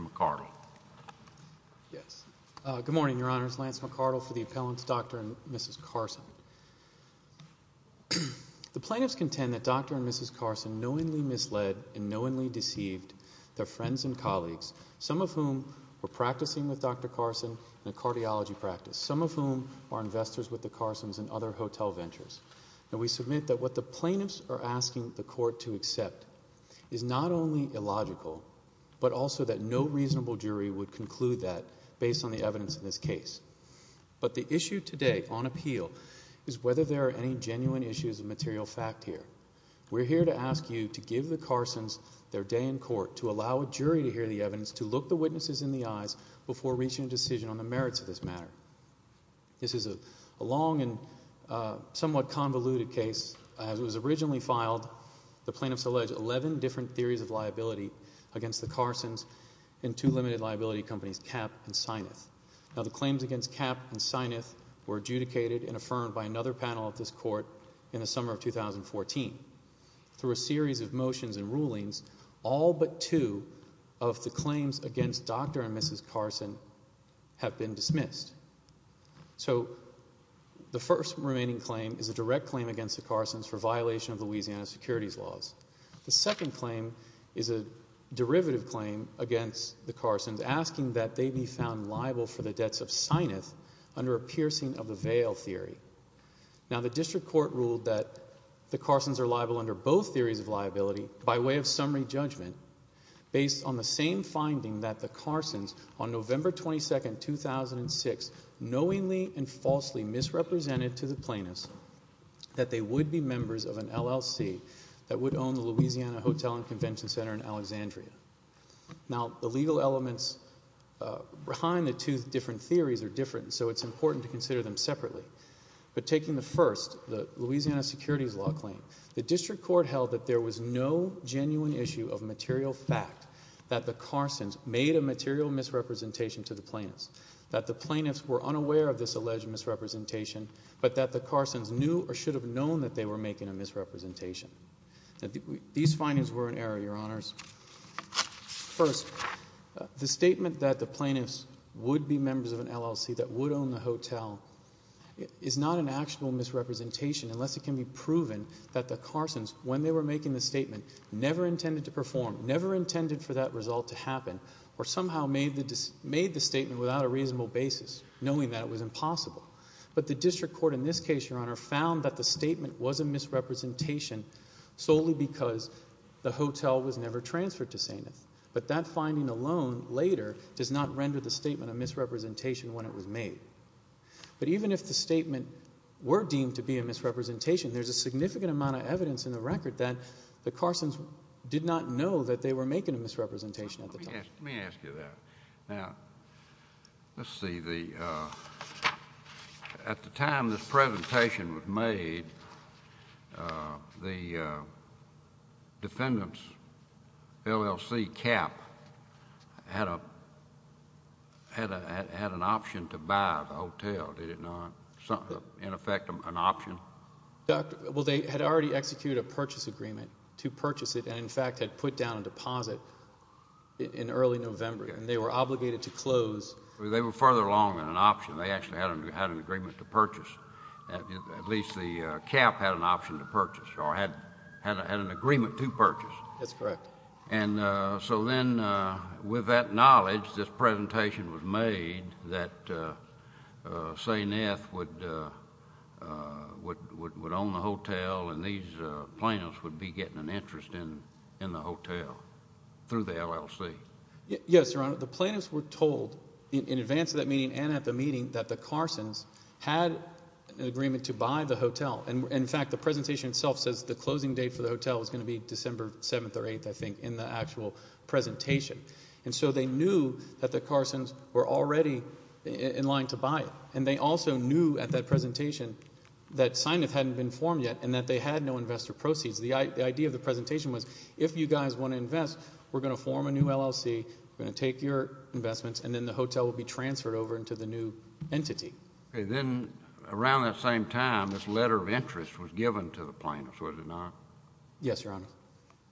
McArdle. Good morning, Your Honors. Lance McArdle for the Appellant's Dr. and Mrs. Carson. The plaintiffs contend that Dr. and Mrs. Carson knowingly misled and knowingly deceived their friends and colleagues, some of whom were practicing with Dr. Carson in a cardiology practice, some of whom are investors with the Carsons in other hotel ventures. We submit that what the plaintiffs are asking the Court to accept is not only illogical, but also that no reasonable jury would conclude that based on the evidence in this case. But the issue today on appeal is whether there are any genuine issues of material fact here. We're here to ask you to give the Carsons their day in court, to allow a jury to hear the evidence, to look the witnesses in the eyes before reaching a decision on the merits of this matter. This is a long and somewhat convoluted case. It was originally filed, the plaintiffs allege, 11 different theories of liability against the Carsons in two limited liability companies, Kapp and Sineth. Now the claims against Kapp and Sineth were adjudicated and affirmed by another panel of this Court in the summer of 2014. Through a series of motions and rulings, all but two of the claims against Dr. and Mrs. Carson have been dismissed. So the first remaining claim is a direct claim against the Carsons for violation of Louisiana securities laws. The second claim is a derivative claim against the Carsons, asking that they be found liable for the debts of Sineth under a piercing of the veil theory. Now the District Court ruled that the Carsons are liable under both theories of liability by way of summary judgment based on the same finding that the Carsons on November 22, 2006, knowingly and that would own the Louisiana Hotel and Convention Center in Alexandria. Now the legal elements behind the two different theories are different, so it's important to consider them separately. But taking the first, the Louisiana securities law claim, the District Court held that there was no genuine issue of material fact that the Carsons made a material misrepresentation to the plaintiffs, that the plaintiffs were unaware of this alleged misrepresentation, but that the these findings were in error, Your Honors. First, the statement that the plaintiffs would be members of an LLC that would own the hotel is not an actual misrepresentation unless it can be proven that the Carsons, when they were making the statement, never intended to perform, never intended for that result to happen, or somehow made the statement without a reasonable basis, knowing that it was impossible. But the District Court in this case, Your Honor, found that the solely because the hotel was never transferred to Sainth, but that finding alone later does not render the statement a misrepresentation when it was made. But even if the statement were deemed to be a misrepresentation, there's a significant amount of evidence in the record that the Carsons did not know that they were making a misrepresentation at the time. Let me ask you that. Now, let's see, at the time this presentation was made, the defendant's LLC, CAP, had an option to buy the hotel, did it not? In effect, an option? Well, they had already executed a purchase agreement to purchase it, and in fact had put a deposit in early November, and they were obligated to close. They were further along than an option. They actually had an agreement to purchase. At least the CAP had an option to purchase, or had an agreement to purchase. That's correct. And so then, with that knowledge, this presentation was made that Sainth would own the hotel, and these plaintiffs would be getting an interest in the hotel through the LLC? Yes, Your Honor. The plaintiffs were told in advance of that meeting and at the meeting that the Carsons had an agreement to buy the hotel. And in fact, the presentation itself says the closing date for the hotel was going to be December 7th or 8th, I think, in the actual presentation. And so they knew that the Carsons were already in line to buy it, and they also knew at that presentation that Sainth hadn't been formed yet, and that they had no investor proceeds. The idea of the presentation was, if you guys want to invest, we're going to form a new LLC, we're going to take your investments, and then the hotel will be transferred over into the new entity. Okay. Then, around that same time, this letter of interest was given to the plaintiffs, was it not? Yes, Your Honor.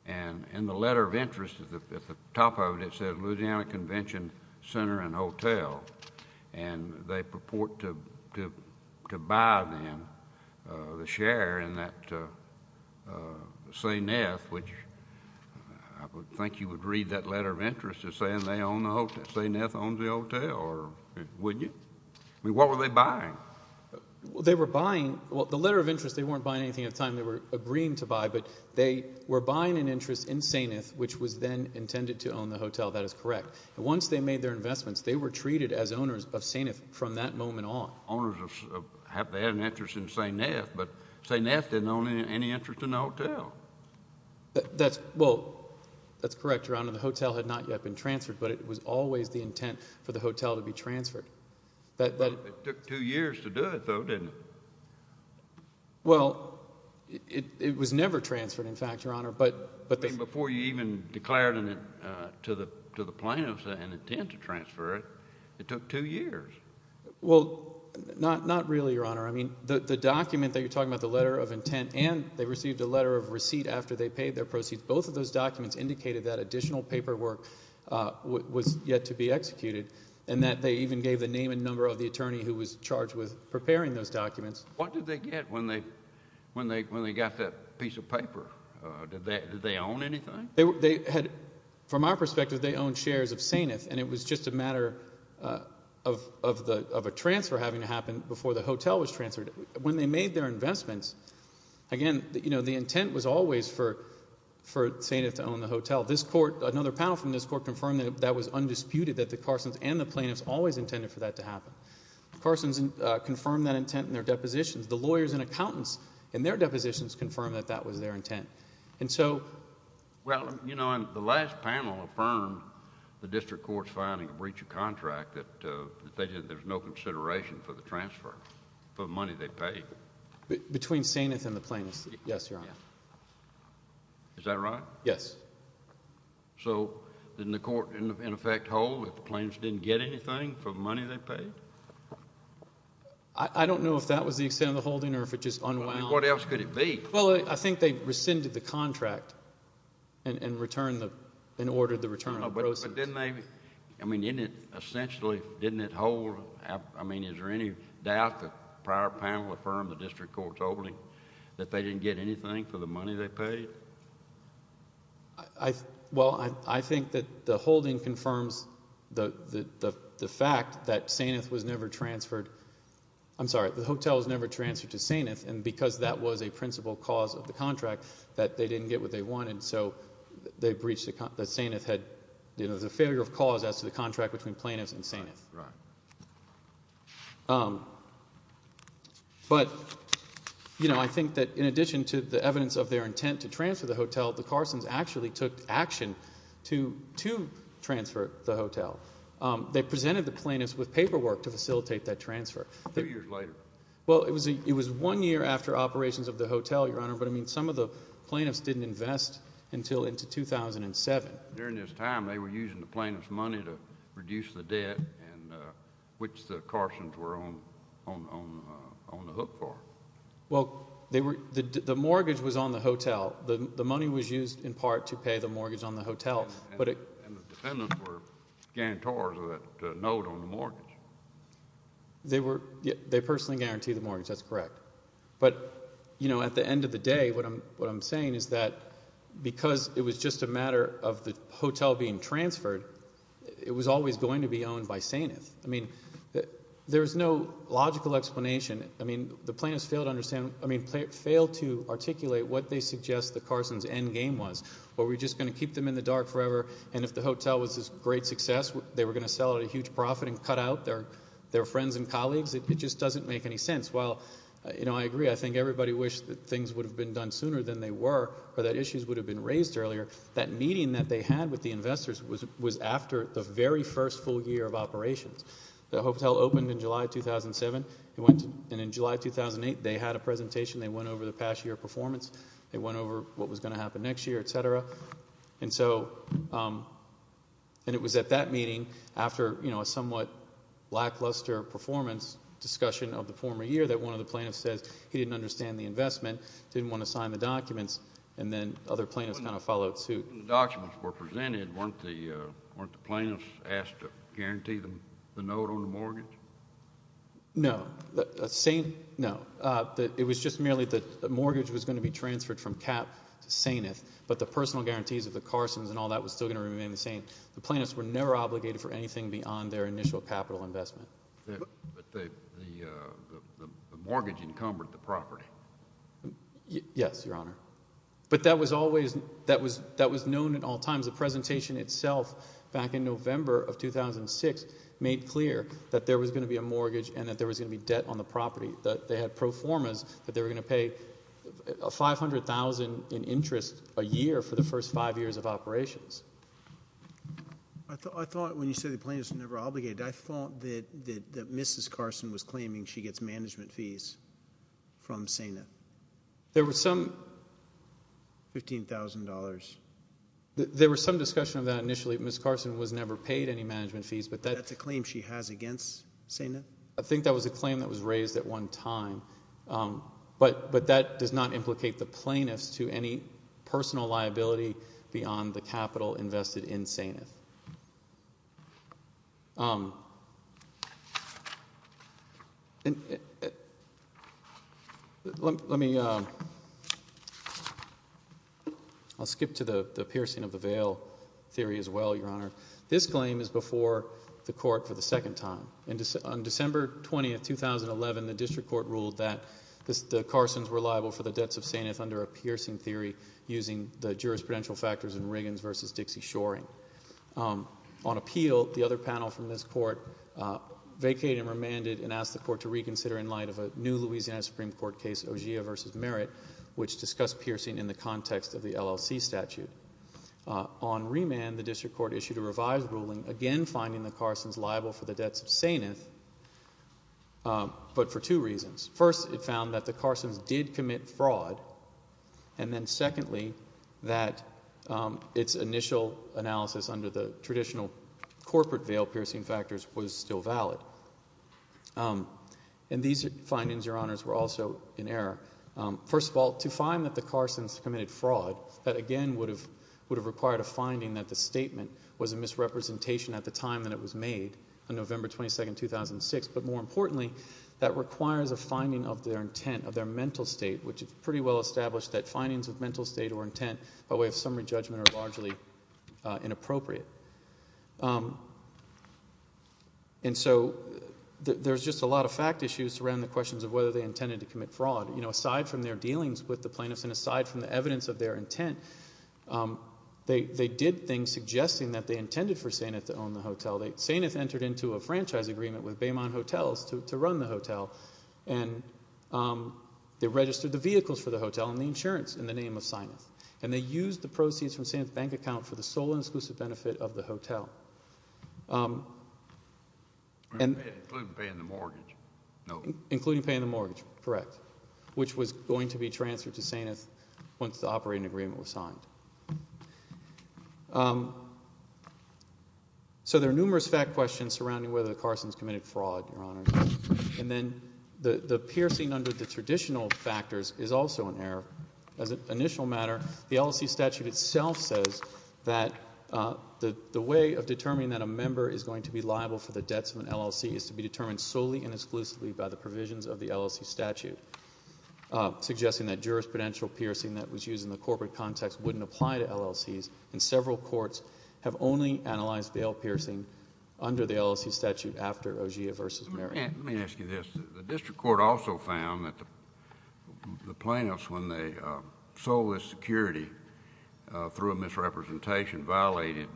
And in the letter of interest, at the top of it, it says Louisiana Convention Center and Hotel. And they purport to buy, then, the share in that Sainth, which I would think you would read that letter of interest as saying Sainth owns the hotel, or would you? I mean, what were they buying? Well, they were buying—well, the letter of interest, they weren't buying anything at the time they were agreeing to buy, but they were buying an interest in Sainth, which was then their investments. They were treated as owners of Sainth from that moment on. Owners of—they had an interest in Sainth, but Sainth didn't own any interest in the hotel. That's—well, that's correct, Your Honor. The hotel had not yet been transferred, but it was always the intent for the hotel to be transferred. It took two years to do it, though, didn't it? Well, it was never transferred, in fact, Your Honor. Before you even declared to the plaintiffs an intent to transfer it, it took two years. Well, not really, Your Honor. I mean, the document that you're talking about, the letter of intent, and they received a letter of receipt after they paid their proceeds, both of those documents indicated that additional paperwork was yet to be executed and that they even gave the name and number of the attorney who was charged with preparing those documents. What did they get when they got that piece of paper? Did they own anything? From our perspective, they owned shares of Sainth, and it was just a matter of a transfer having to happen before the hotel was transferred. When they made their investments, again, you know, the intent was always for Sainth to own the hotel. This Court—another panel from this Court confirmed that that was undisputed, that the Carsons and the plaintiffs always intended for that to happen. Carsons confirmed that intent in their depositions. The lawyers and accountants in their depositions confirmed that that was their intent. And so— Well, you know, the last panel affirmed the District Court's finding of breach of contract that there's no consideration for the transfer for the money they paid. Between Sainth and the plaintiffs. Yes, Your Honor. Is that right? Yes. So didn't the Court, in effect, hold if the plaintiffs didn't get anything for the money they paid? I don't know if that was the extent of the holding or if it just unwound. What else could it be? Well, I think they rescinded the contract and returned the—and ordered the return of the process. But didn't they—I mean, didn't it essentially—didn't it hold—I mean, is there any doubt the prior panel affirmed, the District Court told me, that they didn't get anything for the money they paid? Well, I think that the holding confirms the fact that Sainth was never transferred—I'm sorry, the hotel was never transferred to Sainth, and because that was a principal cause of the contract, that they didn't get what they wanted. So they breached the—Sainth had—you know, the failure of cause as to the contract between plaintiffs and Sainth. Right. But, you know, I think that in addition to the evidence of their intent to transfer the hotel, the Carsons actually took action to transfer the hotel. They presented the plaintiffs with paperwork to facilitate that transfer. Two years later. Well, it was one year after operations of the hotel, Your Honor, but I mean, some of the plaintiffs didn't invest until into 2007. During this time, they were using the plaintiffs' money to reduce the debt, which the Carsons were on the hook for. Well, the mortgage was on the hotel. The money was used in part to pay the mortgage on the hotel. And the dependents were guarantors of that note on the mortgage. They personally guaranteed the mortgage. That's correct. But, you know, at the end of the day, what I'm saying is that because it was just a matter of the hotel being transferred, it was always going to be owned by Sainth. I mean, there's no logical explanation. I mean, the plaintiffs failed to understand—I mean, failed to articulate what they suggest the Carsons' endgame was. Were we just going to keep them in the dark forever, and if the hotel was a great success, they were going to sell it at a huge profit and cut out their friends and colleagues? It just doesn't make any sense. I agree. I think everybody wished that things would have been done sooner than they were, or that issues would have been raised earlier. That meeting that they had with the investors was after the very first full year of operations. The hotel opened in July 2007, and in July 2008, they had a presentation. They went over the past year performance. They went over what was going to happen next year, et cetera. And it was at that meeting, after a somewhat lackluster performance discussion of the former year, that one of the plaintiffs says he didn't understand the investment, didn't want to sign the documents, and then other plaintiffs kind of followed suit. When the documents were presented, weren't the plaintiffs asked to guarantee them the note on the mortgage? No. No. It was just merely that the mortgage was going to be transferred from Cap to Sainth, but the personal guarantees of the Carsons and all that was still going to remain the same. The plaintiffs were never obligated for anything beyond their initial capital investment. But the mortgage encumbered the property. Yes, Your Honor. But that was known at all times. The presentation itself back in November of 2006 made clear that there was going to be a mortgage and that there was going to be debt on the property, that they had pro formas, that they were going to pay $500,000 in interest a year for the first five years of operations. I thought when you said the plaintiffs were never obligated, I thought that Mrs. Carson was claiming she gets management fees from Sainth. There were some... $15,000. There was some discussion of that initially. Ms. Carson was never paid any management fees, but that... That's a claim she has against Sainth? I think that was a claim that was raised at one time, but that does not implicate the plaintiffs to any personal liability beyond the capital invested in Sainth. Let me... I'll skip to the piercing of the veil theory as well, Your Honor. This claim is before the court for the second time. On December 20th, 2011, the district court ruled that the Carsons were liable for the jurisprudential factors in Riggins v. Dixie-Shoring. On appeal, the other panel from this court vacated and remanded and asked the court to reconsider in light of a new Louisiana Supreme Court case, Ogier v. Merritt, which discussed piercing in the context of the LLC statute. On remand, the district court issued a revised ruling, again finding the Carsons liable for the debts of Sainth, but for two reasons. First, it found that the Carsons did commit fraud, and then secondly, that its initial analysis under the traditional corporate veil piercing factors was still valid. And these findings, Your Honors, were also in error. First of all, to find that the Carsons committed fraud, that again would have required a finding that the statement was a misrepresentation at the time that it was made, on November 22nd, 2006. But more importantly, that requires a finding of their intent, of their mental state, which is pretty well established that findings of mental state or intent by way of summary judgment are largely inappropriate. And so there's just a lot of fact issues around the questions of whether they intended to commit fraud. You know, aside from their dealings with the plaintiffs, and aside from the evidence of their intent, they did things suggesting that they intended for Sainth to own the hotel. Sainth entered into a franchise agreement with Baymont Hotels to run the hotel, and they registered the vehicles for the hotel and the insurance in the name of Sainth. And they used the proceeds from Sainth's bank account for the sole and exclusive benefit of the hotel. And including paying the mortgage. No, including paying the mortgage. Correct. Which was going to be transferred to Sainth once the operating agreement was signed. So there are numerous fact questions surrounding whether the Carsons committed fraud, and then the piercing under the traditional factors is also an error. As an initial matter, the LLC statute itself says that the way of determining that a member is going to be liable for the debts of an LLC is to be determined solely and exclusively by the provisions of the LLC statute, suggesting that jurisprudential piercing that was used in the corporate context wouldn't apply to LLCs, and several courts have only analyzed bail piercing under the LLC statute after OGEA v. Merrick. Let me ask you this. The district court also found that the plaintiffs, when they sold this security through a misrepresentation, violated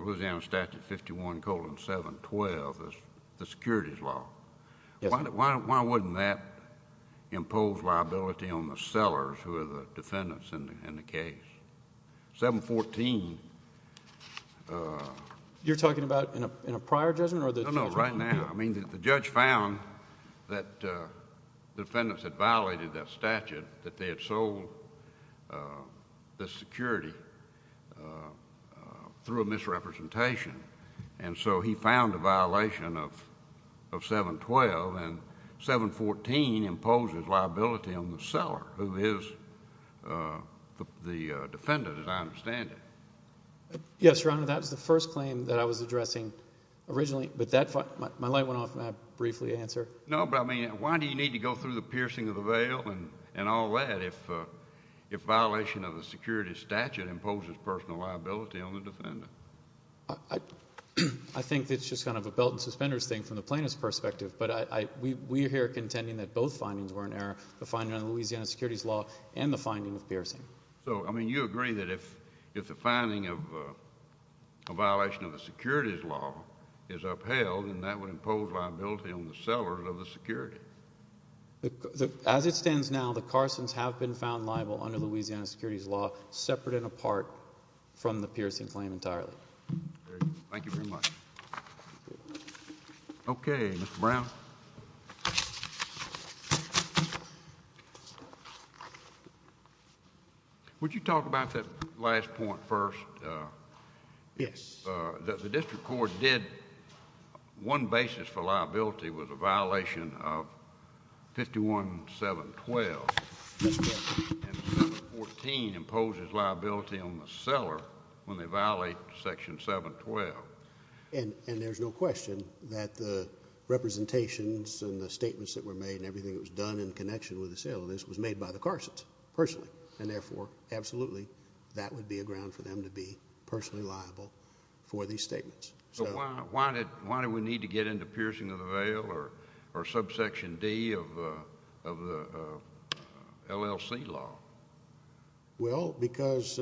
Louisiana Statute 51-712, the securities law. Why wouldn't that impose liability on the sellers who are the defendants in the case? 714. You're talking about in a prior judgment? No, no, right now. I mean, the judge found that the defendants had violated that statute, that they had sold the security through a misrepresentation, and so he found a violation of 712, and 714 imposes liability on the seller who is the defendant, as I understand it. Yes, Your Honor, that was the first claim that I was addressing originally, but my light went off, and I briefly answered. No, but I mean, why do you need to go through the piercing of the bail and all that if violation of the security statute imposes personal liability on the defendant? I think it's just kind of a belt and suspenders thing from the plaintiff's perspective, but we're here contending that both findings were in error, the finding of Louisiana securities law and the finding of piercing. So, I mean, you agree that if the finding of a violation of the securities law is upheld, then that would impose liability on the sellers of the security? As it stands now, the Carsons have been found liable under Louisiana securities law, separate and apart from the piercing claim entirely. Thank you very much. Okay, Mr. Brown. Would you talk about that last point first? Yes. The district court did, one basis for liability was a violation of 51712, and 714 imposes liability on the seller when they violate section 712. And there's no question that the representations and the statements that were made and everything that was done in connection with the sale of this was made by the Carsons personally, and therefore, absolutely, that would be a ground for them to be personally liable for these statements. So, why did we need to get into piercing of the bail or subsection D of the LLC law? Well, because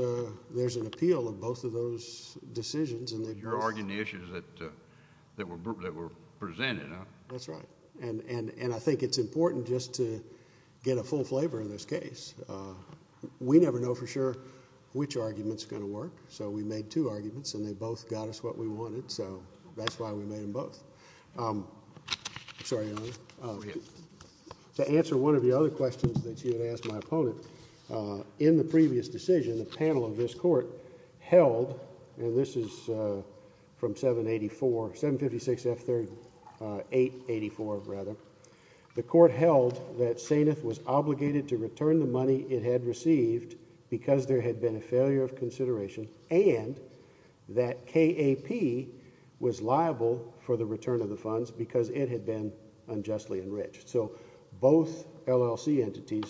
there's an appeal of both of those decisions. You're arguing the issues that were presented, huh? That's right. And I think it's important just to get a full flavor in this case. We never know for sure which argument is going to work. So, we made two arguments, and they both got us what we wanted. So, that's why we made them both. I'm sorry, Your Honor. To answer one of the other questions that you had asked my opponent, in the previous decision, the panel of this court held, and this is from 784, 756F884, rather, the court held that Sainth was obligated to return the money it had received because there had been a failure of consideration, and that KAP was liable for the return of the funds because it had been unjustly enriched. So, both LLC entities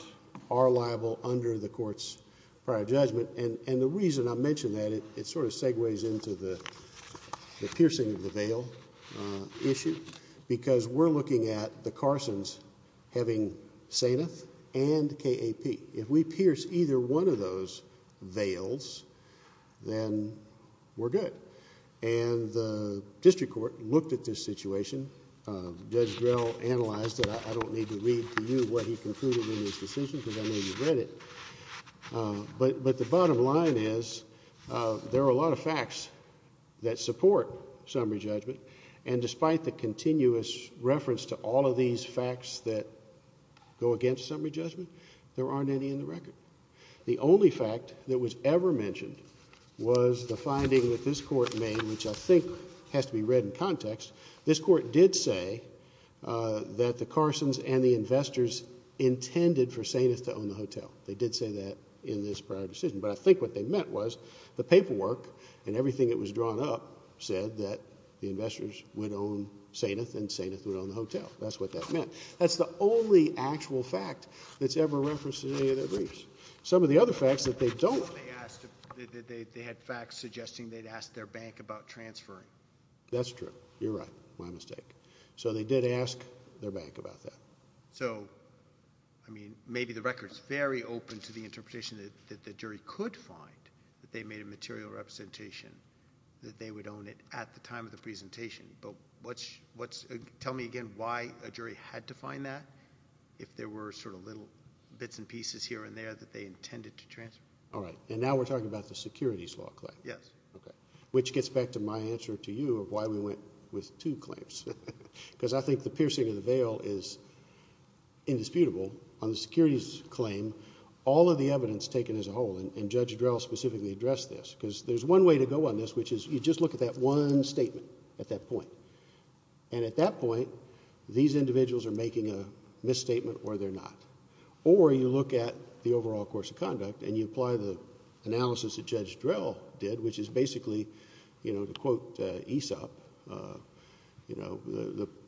are liable under the court's prior judgment. And the reason I mention that, it sort of segues into the piercing of the veil issue because we're looking at the Carsons having Sainth and KAP. If we pierce either one of those veils, then we're good. And the district court looked at this situation. Judge Drell analyzed it. I don't need to read to you what he concluded in this decision because I know you've read it. But the bottom line is, there are a lot of facts that support summary judgment, and despite the continuous reference to all of these facts that go against summary judgment, there aren't any in the record. The only fact that was ever mentioned was the finding that this court made, which I think has to be read in context. This court did say that the Carsons and the investors intended for Sainth to own the hotel. They did say that in this prior decision. But I think what they meant was, the paperwork and everything that was drawn up said that the investors would own Sainth, and Sainth would own the hotel. That's what that meant. That's the only actual fact that's ever referenced in any of their briefs. Some of the other facts that they don't... They had facts suggesting they'd asked their bank about transferring. That's true. You're right. My mistake. So, they did ask their bank about that. So, I mean, maybe the record's very open to the interpretation that the jury could find that they made a material representation that they would own it at the time of the presentation. But tell me again why a jury had to find that, if there were sort of little bits and pieces here and there that they intended to transfer. All right. And now we're talking about the securities law claim. Yes. Okay. Which gets back to my answer to you of why we went with two claims. Because I think the piercing of the veil is indisputable. On the securities claim, all of the evidence taken as a whole, and Judge Drell specifically addressed this, because there's one way to go on this, which is you just look at that one statement at that point. And at that point, these individuals are making a misstatement or they're not. Or you look at the overall course of conduct and you apply the analysis that Judge Drell did, which is basically, you know, to quote Aesop, you know,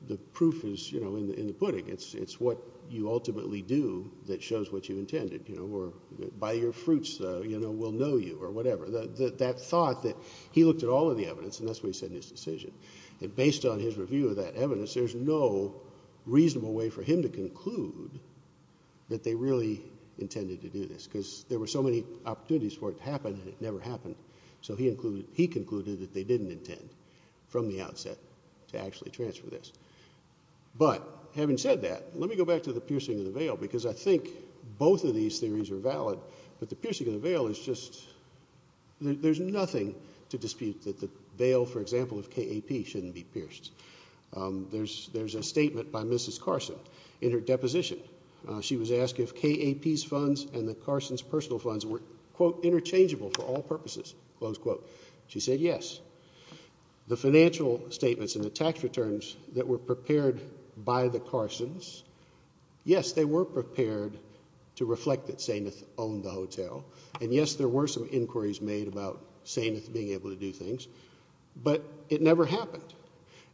the proof is, you know, in the pudding. It's what you ultimately do that shows what you intended, you know, or by your fruits, you know, we'll know you or whatever. That thought that he looked at all of the evidence and that's what he said in his decision. And based on his review of that evidence, there's no reasonable way for him to conclude that they really intended to do this. Because there were so many opportunities for it to happen and it never happened. So he concluded that they didn't intend from the outset to actually transfer this. But having said that, let me go back to the piercing of the veil, because I think both of these theories are valid. But the piercing of the veil is just, there's nothing to dispute that the veil, for example, of KAP shouldn't be pierced. There's a statement by Mrs. Carson in her deposition. She was asked if KAP's funds and the Carsons' personal funds were, quote, interchangeable for all purposes, close quote. She said yes. The financial statements and the tax returns that were prepared by the Carsons, yes, they were prepared to reflect that Sameth owned the hotel. And yes, there were some inquiries made about Sameth being able to do things. But it never happened.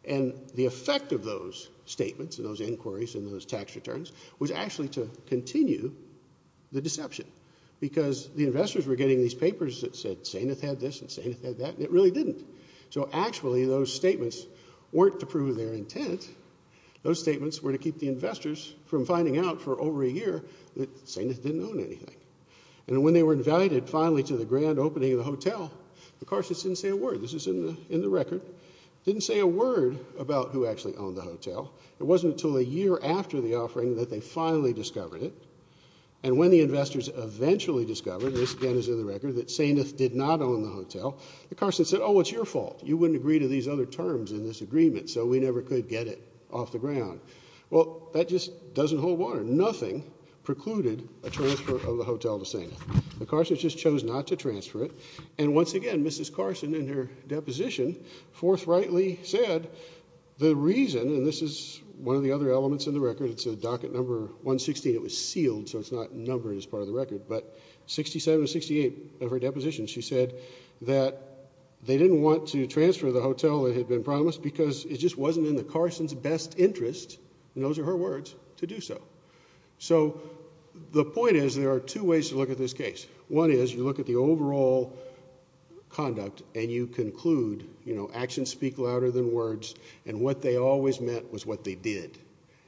And the effect of those statements and those inquiries and those tax returns was actually to continue the deception. Because the investors were getting these papers that said Sameth had this and Sameth had that, and it really didn't. So actually, those statements weren't to prove their intent. Those statements were to keep the investors from finding out for over a year that Sameth didn't own anything. And when they were invited finally to the grand opening of the hotel, of course, it didn't say a word. This is in the record. It didn't say a word about who actually owned the hotel. It wasn't until a year after the offering that they finally discovered it. And when the investors eventually discovered, this again is in the record, that Sameth did not own the hotel, the Carsons said, oh, it's your fault. You wouldn't agree to these other terms in this agreement. So we never could get it off the ground. Well, that just doesn't hold water. Nothing precluded a transfer of the hotel to Sameth. The Carsons just chose not to transfer it. And once again, Mrs. Carson in her deposition forthrightly said the reason, and this is one of the other elements in the record, it's a docket number 116. It was sealed, so it's not numbered as part of the record. But 67 or 68 of her deposition, she said that they didn't want to transfer the hotel that had been promised because it just wasn't in the Carsons' best interest, and those are her words, to do so. So the point is there are two ways to look at this case. One is you look at the overall conduct and you conclude, you know, actions speak louder than words. And what they always meant was what they did.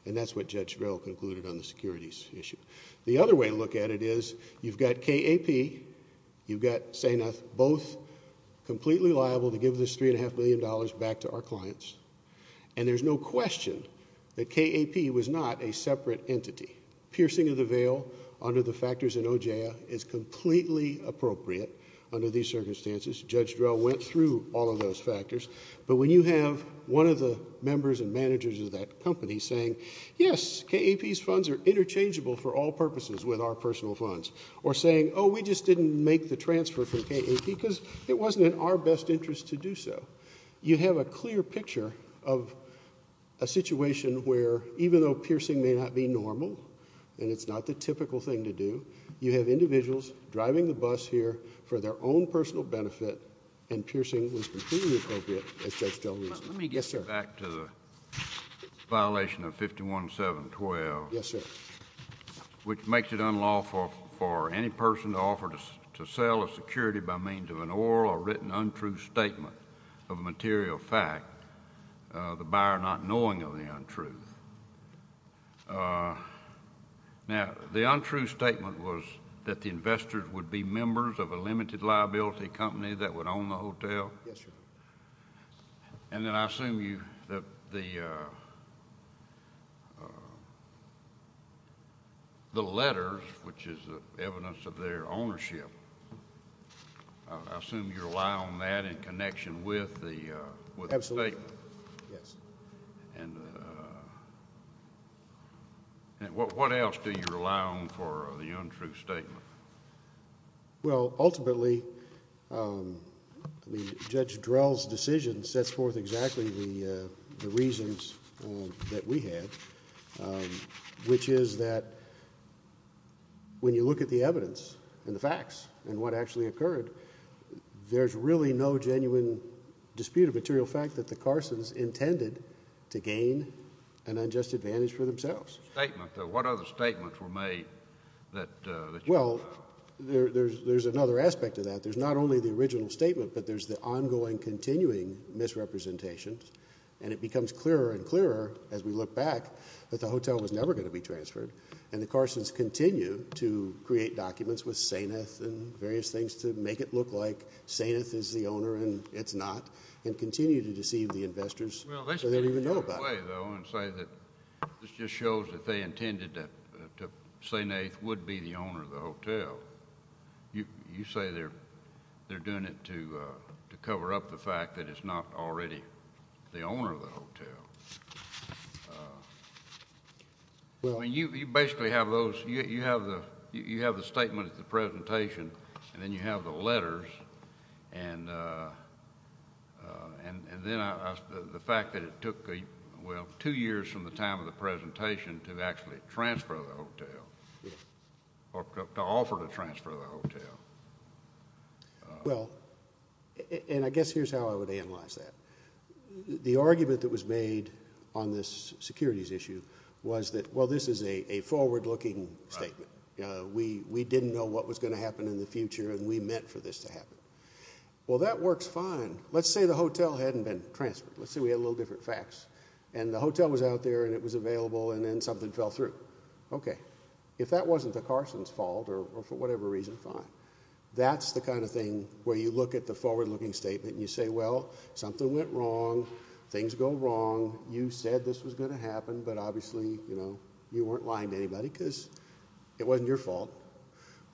And that's what Judge Drell concluded on the securities issue. The other way to look at it is you've got KAP, you've got Sameth, both completely liable to give this $3.5 million back to our clients. And there's no question that KAP was not a separate entity. Piercing of the veil under the factors in OJIA is completely appropriate under these circumstances. Judge Drell went through all of those factors. But when you have one of the members and managers of that company, yes, KAP's funds are interchangeable for all purposes with our personal funds. Or saying, oh, we just didn't make the transfer for KAP because it wasn't in our best interest to do so. You have a clear picture of a situation where, even though piercing may not be normal and it's not the typical thing to do, you have individuals driving the bus here for their own personal benefit and piercing was completely appropriate, as Judge Drell reasoned. Let me get back to the violation of 517.12, which makes it unlawful for any person to offer to sell a security by means of an oral or written untrue statement of a material fact, the buyer not knowing of the untruth. Now, the untrue statement was that the investors would be members of a limited liability company that would own the hotel. Yes, Your Honor. And then I assume that the letters, which is the evidence of their ownership, I assume you rely on that in connection with the statement. Yes. And what else do you rely on for the untrue statement? Well, ultimately, I mean, Judge Drell's decision sets forth exactly the reasons that we have, which is that when you look at the evidence and the facts and what actually occurred, there's really no genuine dispute of material fact that the Carsons intended to gain an unjust advantage for themselves. The statement, though, what other statements were made that... Well, there's another aspect to that. There's not only the original statement, but there's the ongoing, continuing misrepresentation. And it becomes clearer and clearer as we look back that the hotel was never going to be transferred. And the Carsons continue to create documents with Sainath and various things to make it look like Sainath is the owner and it's not, and continue to deceive the investors so they don't even know about it. Well, let's put it another way, though, and say that this just shows that they intended that Sainath would be the owner of the hotel. You say they're doing it to cover up the fact that it's not already the owner of the hotel. Well... I mean, you basically have those... you have the statement at the presentation and then you have the letters and then the fact that it took, well, two years from the time of the presentation to actually transfer the hotel, or to offer to transfer the hotel. Well, and I guess here's how I would analyze that. The argument that was made on this securities issue was that, well, this is a forward-looking statement. We didn't know what was going to happen in the future and we meant for this to happen. Well, that works fine. Let's say the hotel hadn't been transferred. Let's say we had a little different facts and the hotel was out there and it was available and then something fell through. Okay. If that wasn't the Carson's fault or for whatever reason, fine. That's the kind of thing where you look at the forward-looking statement and you say, well, something went wrong. Things go wrong. You said this was going to happen, but obviously, you know, you weren't lying to anybody because it wasn't your fault.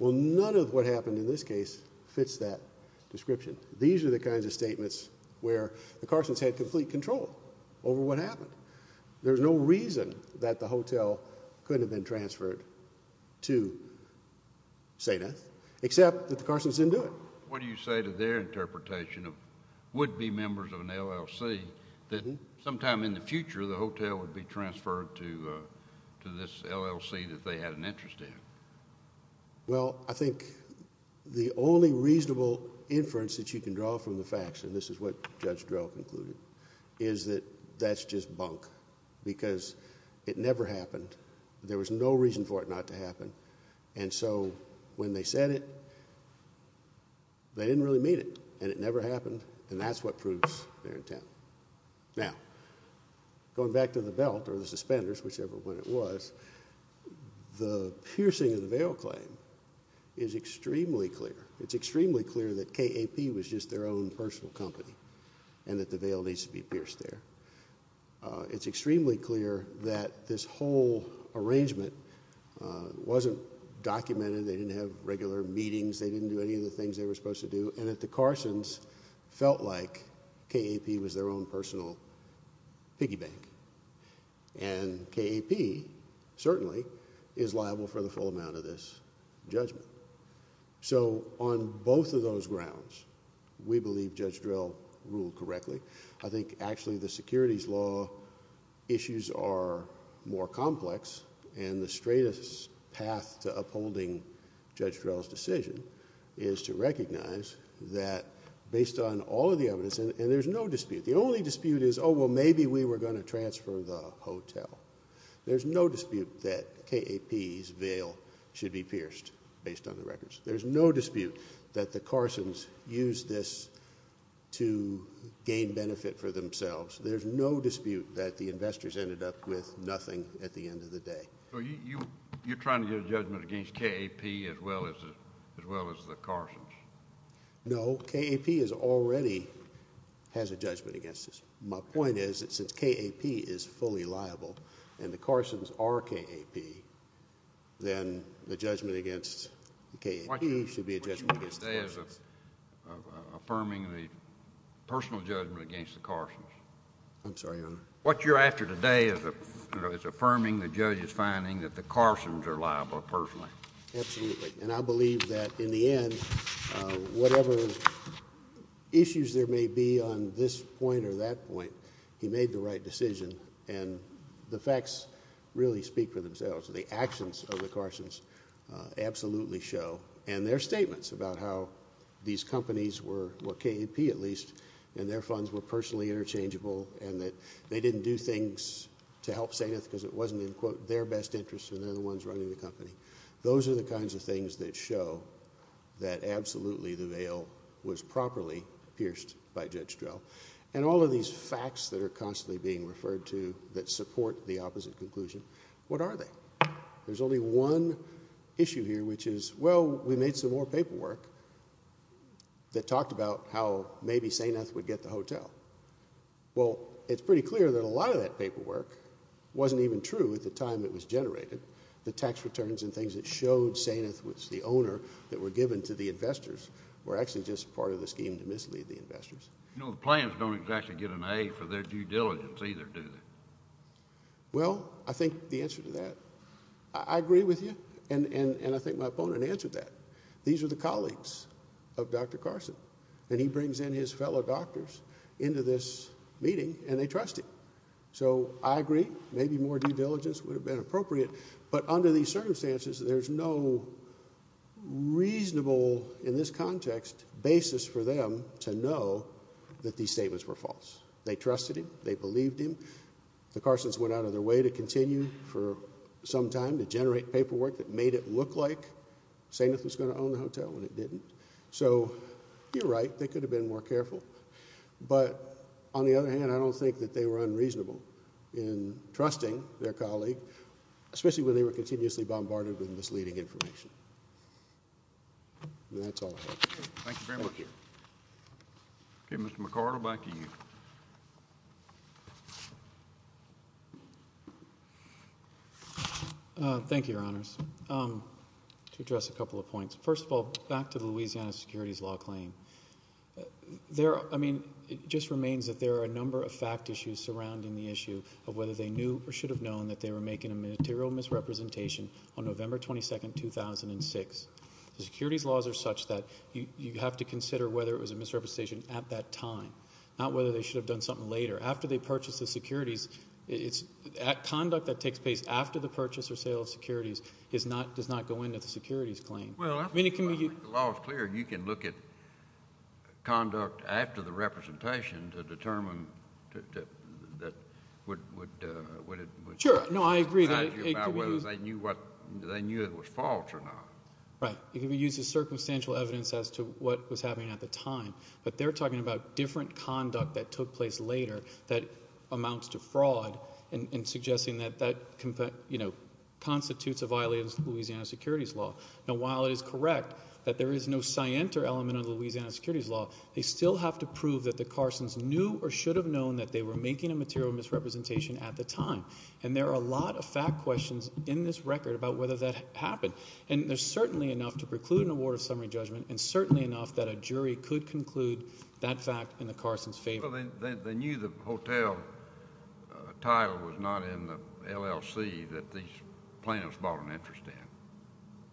Well, none of what happened in this case fits that description. These are the kinds of statements where the Carson's had complete control over what happened. There's no reason that the hotel couldn't have been transferred to Sada, except that the Carson's didn't do it. What do you say to their interpretation of would-be members of an LLC that sometime in the future, the hotel would be transferred to this LLC that they had an interest in? Well, I think the only reasonable inference that you can draw from the facts, and this is what Judge Drell concluded, is that that's just bunk because it never happened. There was no reason for it not to happen. And so when they said it, they didn't really mean it and it never happened. And that's what proves they're in town. Now, going back to the belt or the suspenders, whichever one it was, the piercing of the bail claim is extremely clear. It's extremely clear that KAP was just their own personal company and that the bail needs to be pierced there. It's extremely clear that this whole arrangement wasn't documented. They didn't have regular meetings. They didn't do any of the things they were supposed to do. And that the Carson's felt like KAP was their own personal piggy bank. And KAP certainly is liable for the full amount of this judgment. So on both of those grounds, we believe Judge Drell ruled correctly. I think actually the securities law issues are more complex. And the straightest path to upholding Judge Drell's decision is to recognize that based on all of the evidence, and there's no dispute. The only dispute is, oh, well, maybe we were going to transfer the hotel. There's no dispute that KAP's bail should be pierced based on the records. There's no dispute that the Carson's used this to gain benefit for themselves. There's no dispute that the investors ended up with nothing at the end of the day. So you're trying to get a judgment against KAP as well as the Carson's? No. KAP already has a judgment against this. My point is that since KAP is fully liable and the Carson's are KAP, then the judgment against KAP should be a judgment against the Carson's. What you're after today is affirming the personal judgment against the Carson's. I'm sorry, Your Honor. What you're after today is affirming the judge's finding that the Carson's are liable personally. Absolutely. And I believe that in the end, whatever issues there may be on this point or that point, he made the right decision. And the facts really speak for themselves. The actions of the Carson's absolutely show. And their statements about how these companies were KAP, at least, and their funds were personally interchangeable, and that they didn't do things to help Sainth because it wasn't, in quote, their best interest and they're the ones running the company. Those are the kinds of things that show that absolutely the veil was properly pierced by Judge Drell. And all of these facts that are constantly being referred to that support the opposite conclusion, what are they? There's only one issue here, which is, well, we made some more paperwork that talked about how maybe Sainth would get the hotel. Well, it's pretty clear that a lot of that paperwork wasn't even true at the time it was generated. The tax returns and things that showed Sainth was the owner that were given to the investors were actually just part of the scheme to mislead the investors. You know, the plans don't exactly get an A for their due diligence either, do they? Well, I think the answer to that, I agree with you. And I think my opponent answered that. These are the colleagues of Dr. Carson. And he brings in his fellow doctors into this meeting and they trust him. So I agree. Maybe more due diligence would have been appropriate. But under these circumstances, there's no reasonable, in this context, basis for them to know that these statements were false. They trusted him. They believed him. The Carsons went out of their way to continue for some time to generate paperwork that made it look like Sainth was going to own the hotel when it didn't. So you're right. They could have been more careful. But on the other hand, I don't think that they were unreasonable in trusting their colleague, especially when they were continuously bombarded with misleading information. That's all I have. Thank you very much. Okay, Mr. McArdle, back to you. Thank you, Your Honors. To address a couple of points. First of all, back to the Louisiana securities law claim. I mean, it just remains that there are a number of fact issues surrounding the issue of whether they knew or should have known that they were making a material misrepresentation on November 22nd, 2006. The securities laws are such that you have to consider whether it was a misrepresentation at that time, not whether they should have done something later. After they purchase the securities, conduct that takes place after the purchase or sale of securities does not go into the securities claim. The law is clear. You can look at conduct after the representation to determine that what it would. Sure. No, I agree. They knew it was false or not. Right. It uses circumstantial evidence as to what was happening at the time. But they're talking about different conduct that took place later that amounts to fraud and suggesting that that, you know, constitutes a violation of Louisiana securities law. Now, while it is correct that there is no scienter element of Louisiana securities law, they still have to prove that the Carsons knew or should have known that they were making a material misrepresentation at the time. And there are a lot of fact questions in this record about whether that happened. And there's certainly enough to preclude an award of summary judgment and certainly enough that a jury could conclude that fact in the Carson's favor. Well, they knew the hotel title was not in the LLC that these plaintiffs bought an interest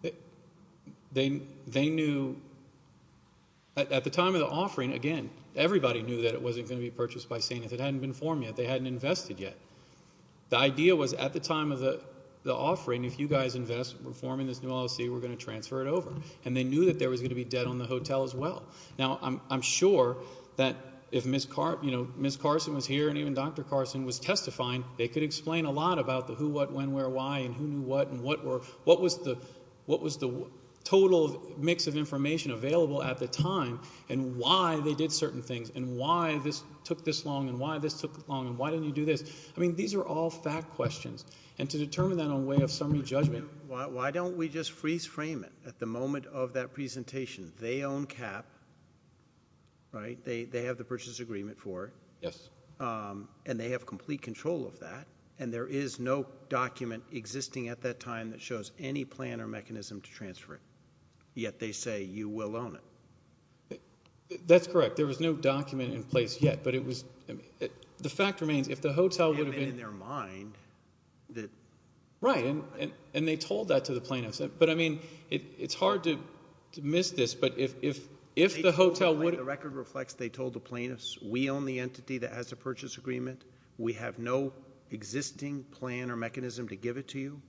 in. They knew at the time of the offering, again, everybody knew that it wasn't going to be purchased by St. Nath. It hadn't been formed yet. They hadn't invested yet. The idea was at the time of the offering, if you guys invest, reforming this new LLC, we're going to transfer it over. And they knew that there was going to be debt on the hotel as well. Now, I'm sure that if Ms. Carson was here and even Dr. Carson was testifying, they could explain a lot about the who, what, when, where, why, and who knew what and what were, what was the total mix of information available at the time, and why they did certain things, and why this took this long, and why this took long, and why didn't you do this? I mean, these are all fact questions. And to determine that in a way of summary judgment, why don't we just freeze frame it at the moment of that presentation? They own CAP, right? They have the purchase agreement for it. Yes. And they have complete control of that. And there is no document existing at that time that shows any plan or mechanism to transfer it. Yet they say, you will own it. That's correct. There was no document in place yet. But it was, I mean, the fact remains, if the hotel would have been- And in their mind that- Right. And they told that to the plaintiffs. But I mean, it's hard to miss this. But if the hotel would- The record reflects they told the plaintiffs, we own the entity that has the purchase agreement. We have no existing plan or mechanism to give it to you.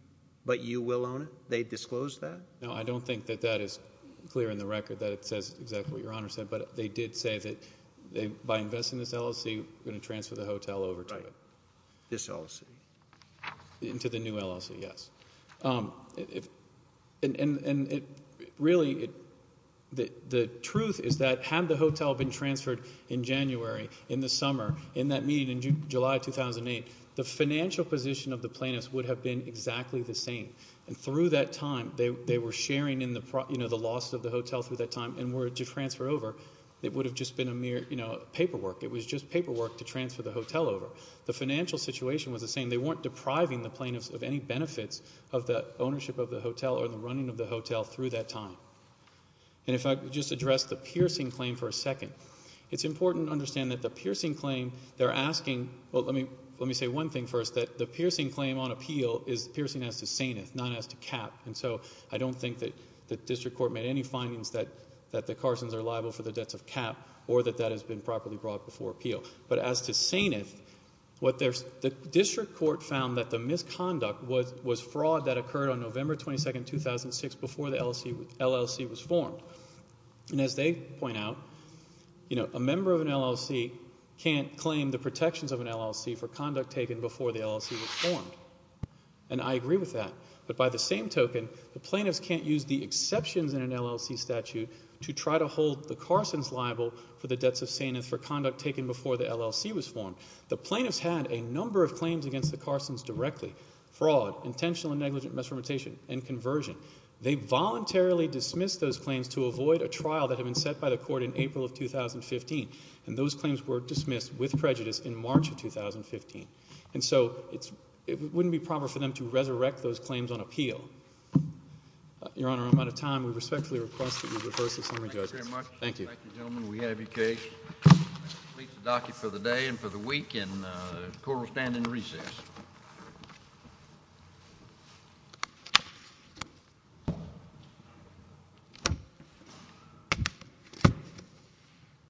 But you will own it. They disclosed that. No, I don't think that that is clear in the record that it says exactly what Your Honor said. But they did say that by investing this LLC, we're going to transfer the hotel over to it. Right. This LLC. Into the new LLC, yes. And really, the truth is that had the hotel been transferred in January, in the summer, in that meeting in July 2008, the financial position of the plaintiffs would have been exactly the same. And through that time, they were sharing in the loss of the hotel through that time. And were it to transfer over, it would have just been a mere paperwork. It was just paperwork to transfer the hotel over. The financial situation was the same. They weren't depriving the plaintiffs of any benefits of the ownership of the hotel or the running of the hotel through that time. And if I could just address the piercing claim for a second. It's important to understand that the piercing claim, they're asking, well, let me say one thing first. That the piercing claim on appeal is piercing as to saneth, not as to cap. And so I don't think that the district court made any findings that the Carsons are liable for the debts of cap or that that has been properly brought before appeal. But as to saneth, the district court found that the misconduct was fraud that occurred on November 22, 2006, before the LLC was formed. And as they point out, a member of an LLC can't claim the protections of an LLC for conduct taken before the LLC was formed. And I agree with that. But by the same token, the plaintiffs can't use the exceptions in an LLC statute to try to hold the Carsons liable for the debts of saneth for conduct taken before the LLC was formed. The plaintiffs had a number of claims against the Carsons directly. Fraud, intentional and negligent misrepresentation, and conversion. They voluntarily dismissed those claims to avoid a trial that had been set by the court in April of 2015. And those claims were dismissed with prejudice in March of 2015. And so it wouldn't be proper for them to resurrect those claims on appeal. Your Honor, I'm out of time. We respectfully request that you reverse the summary judgment. Thank you. Thank you.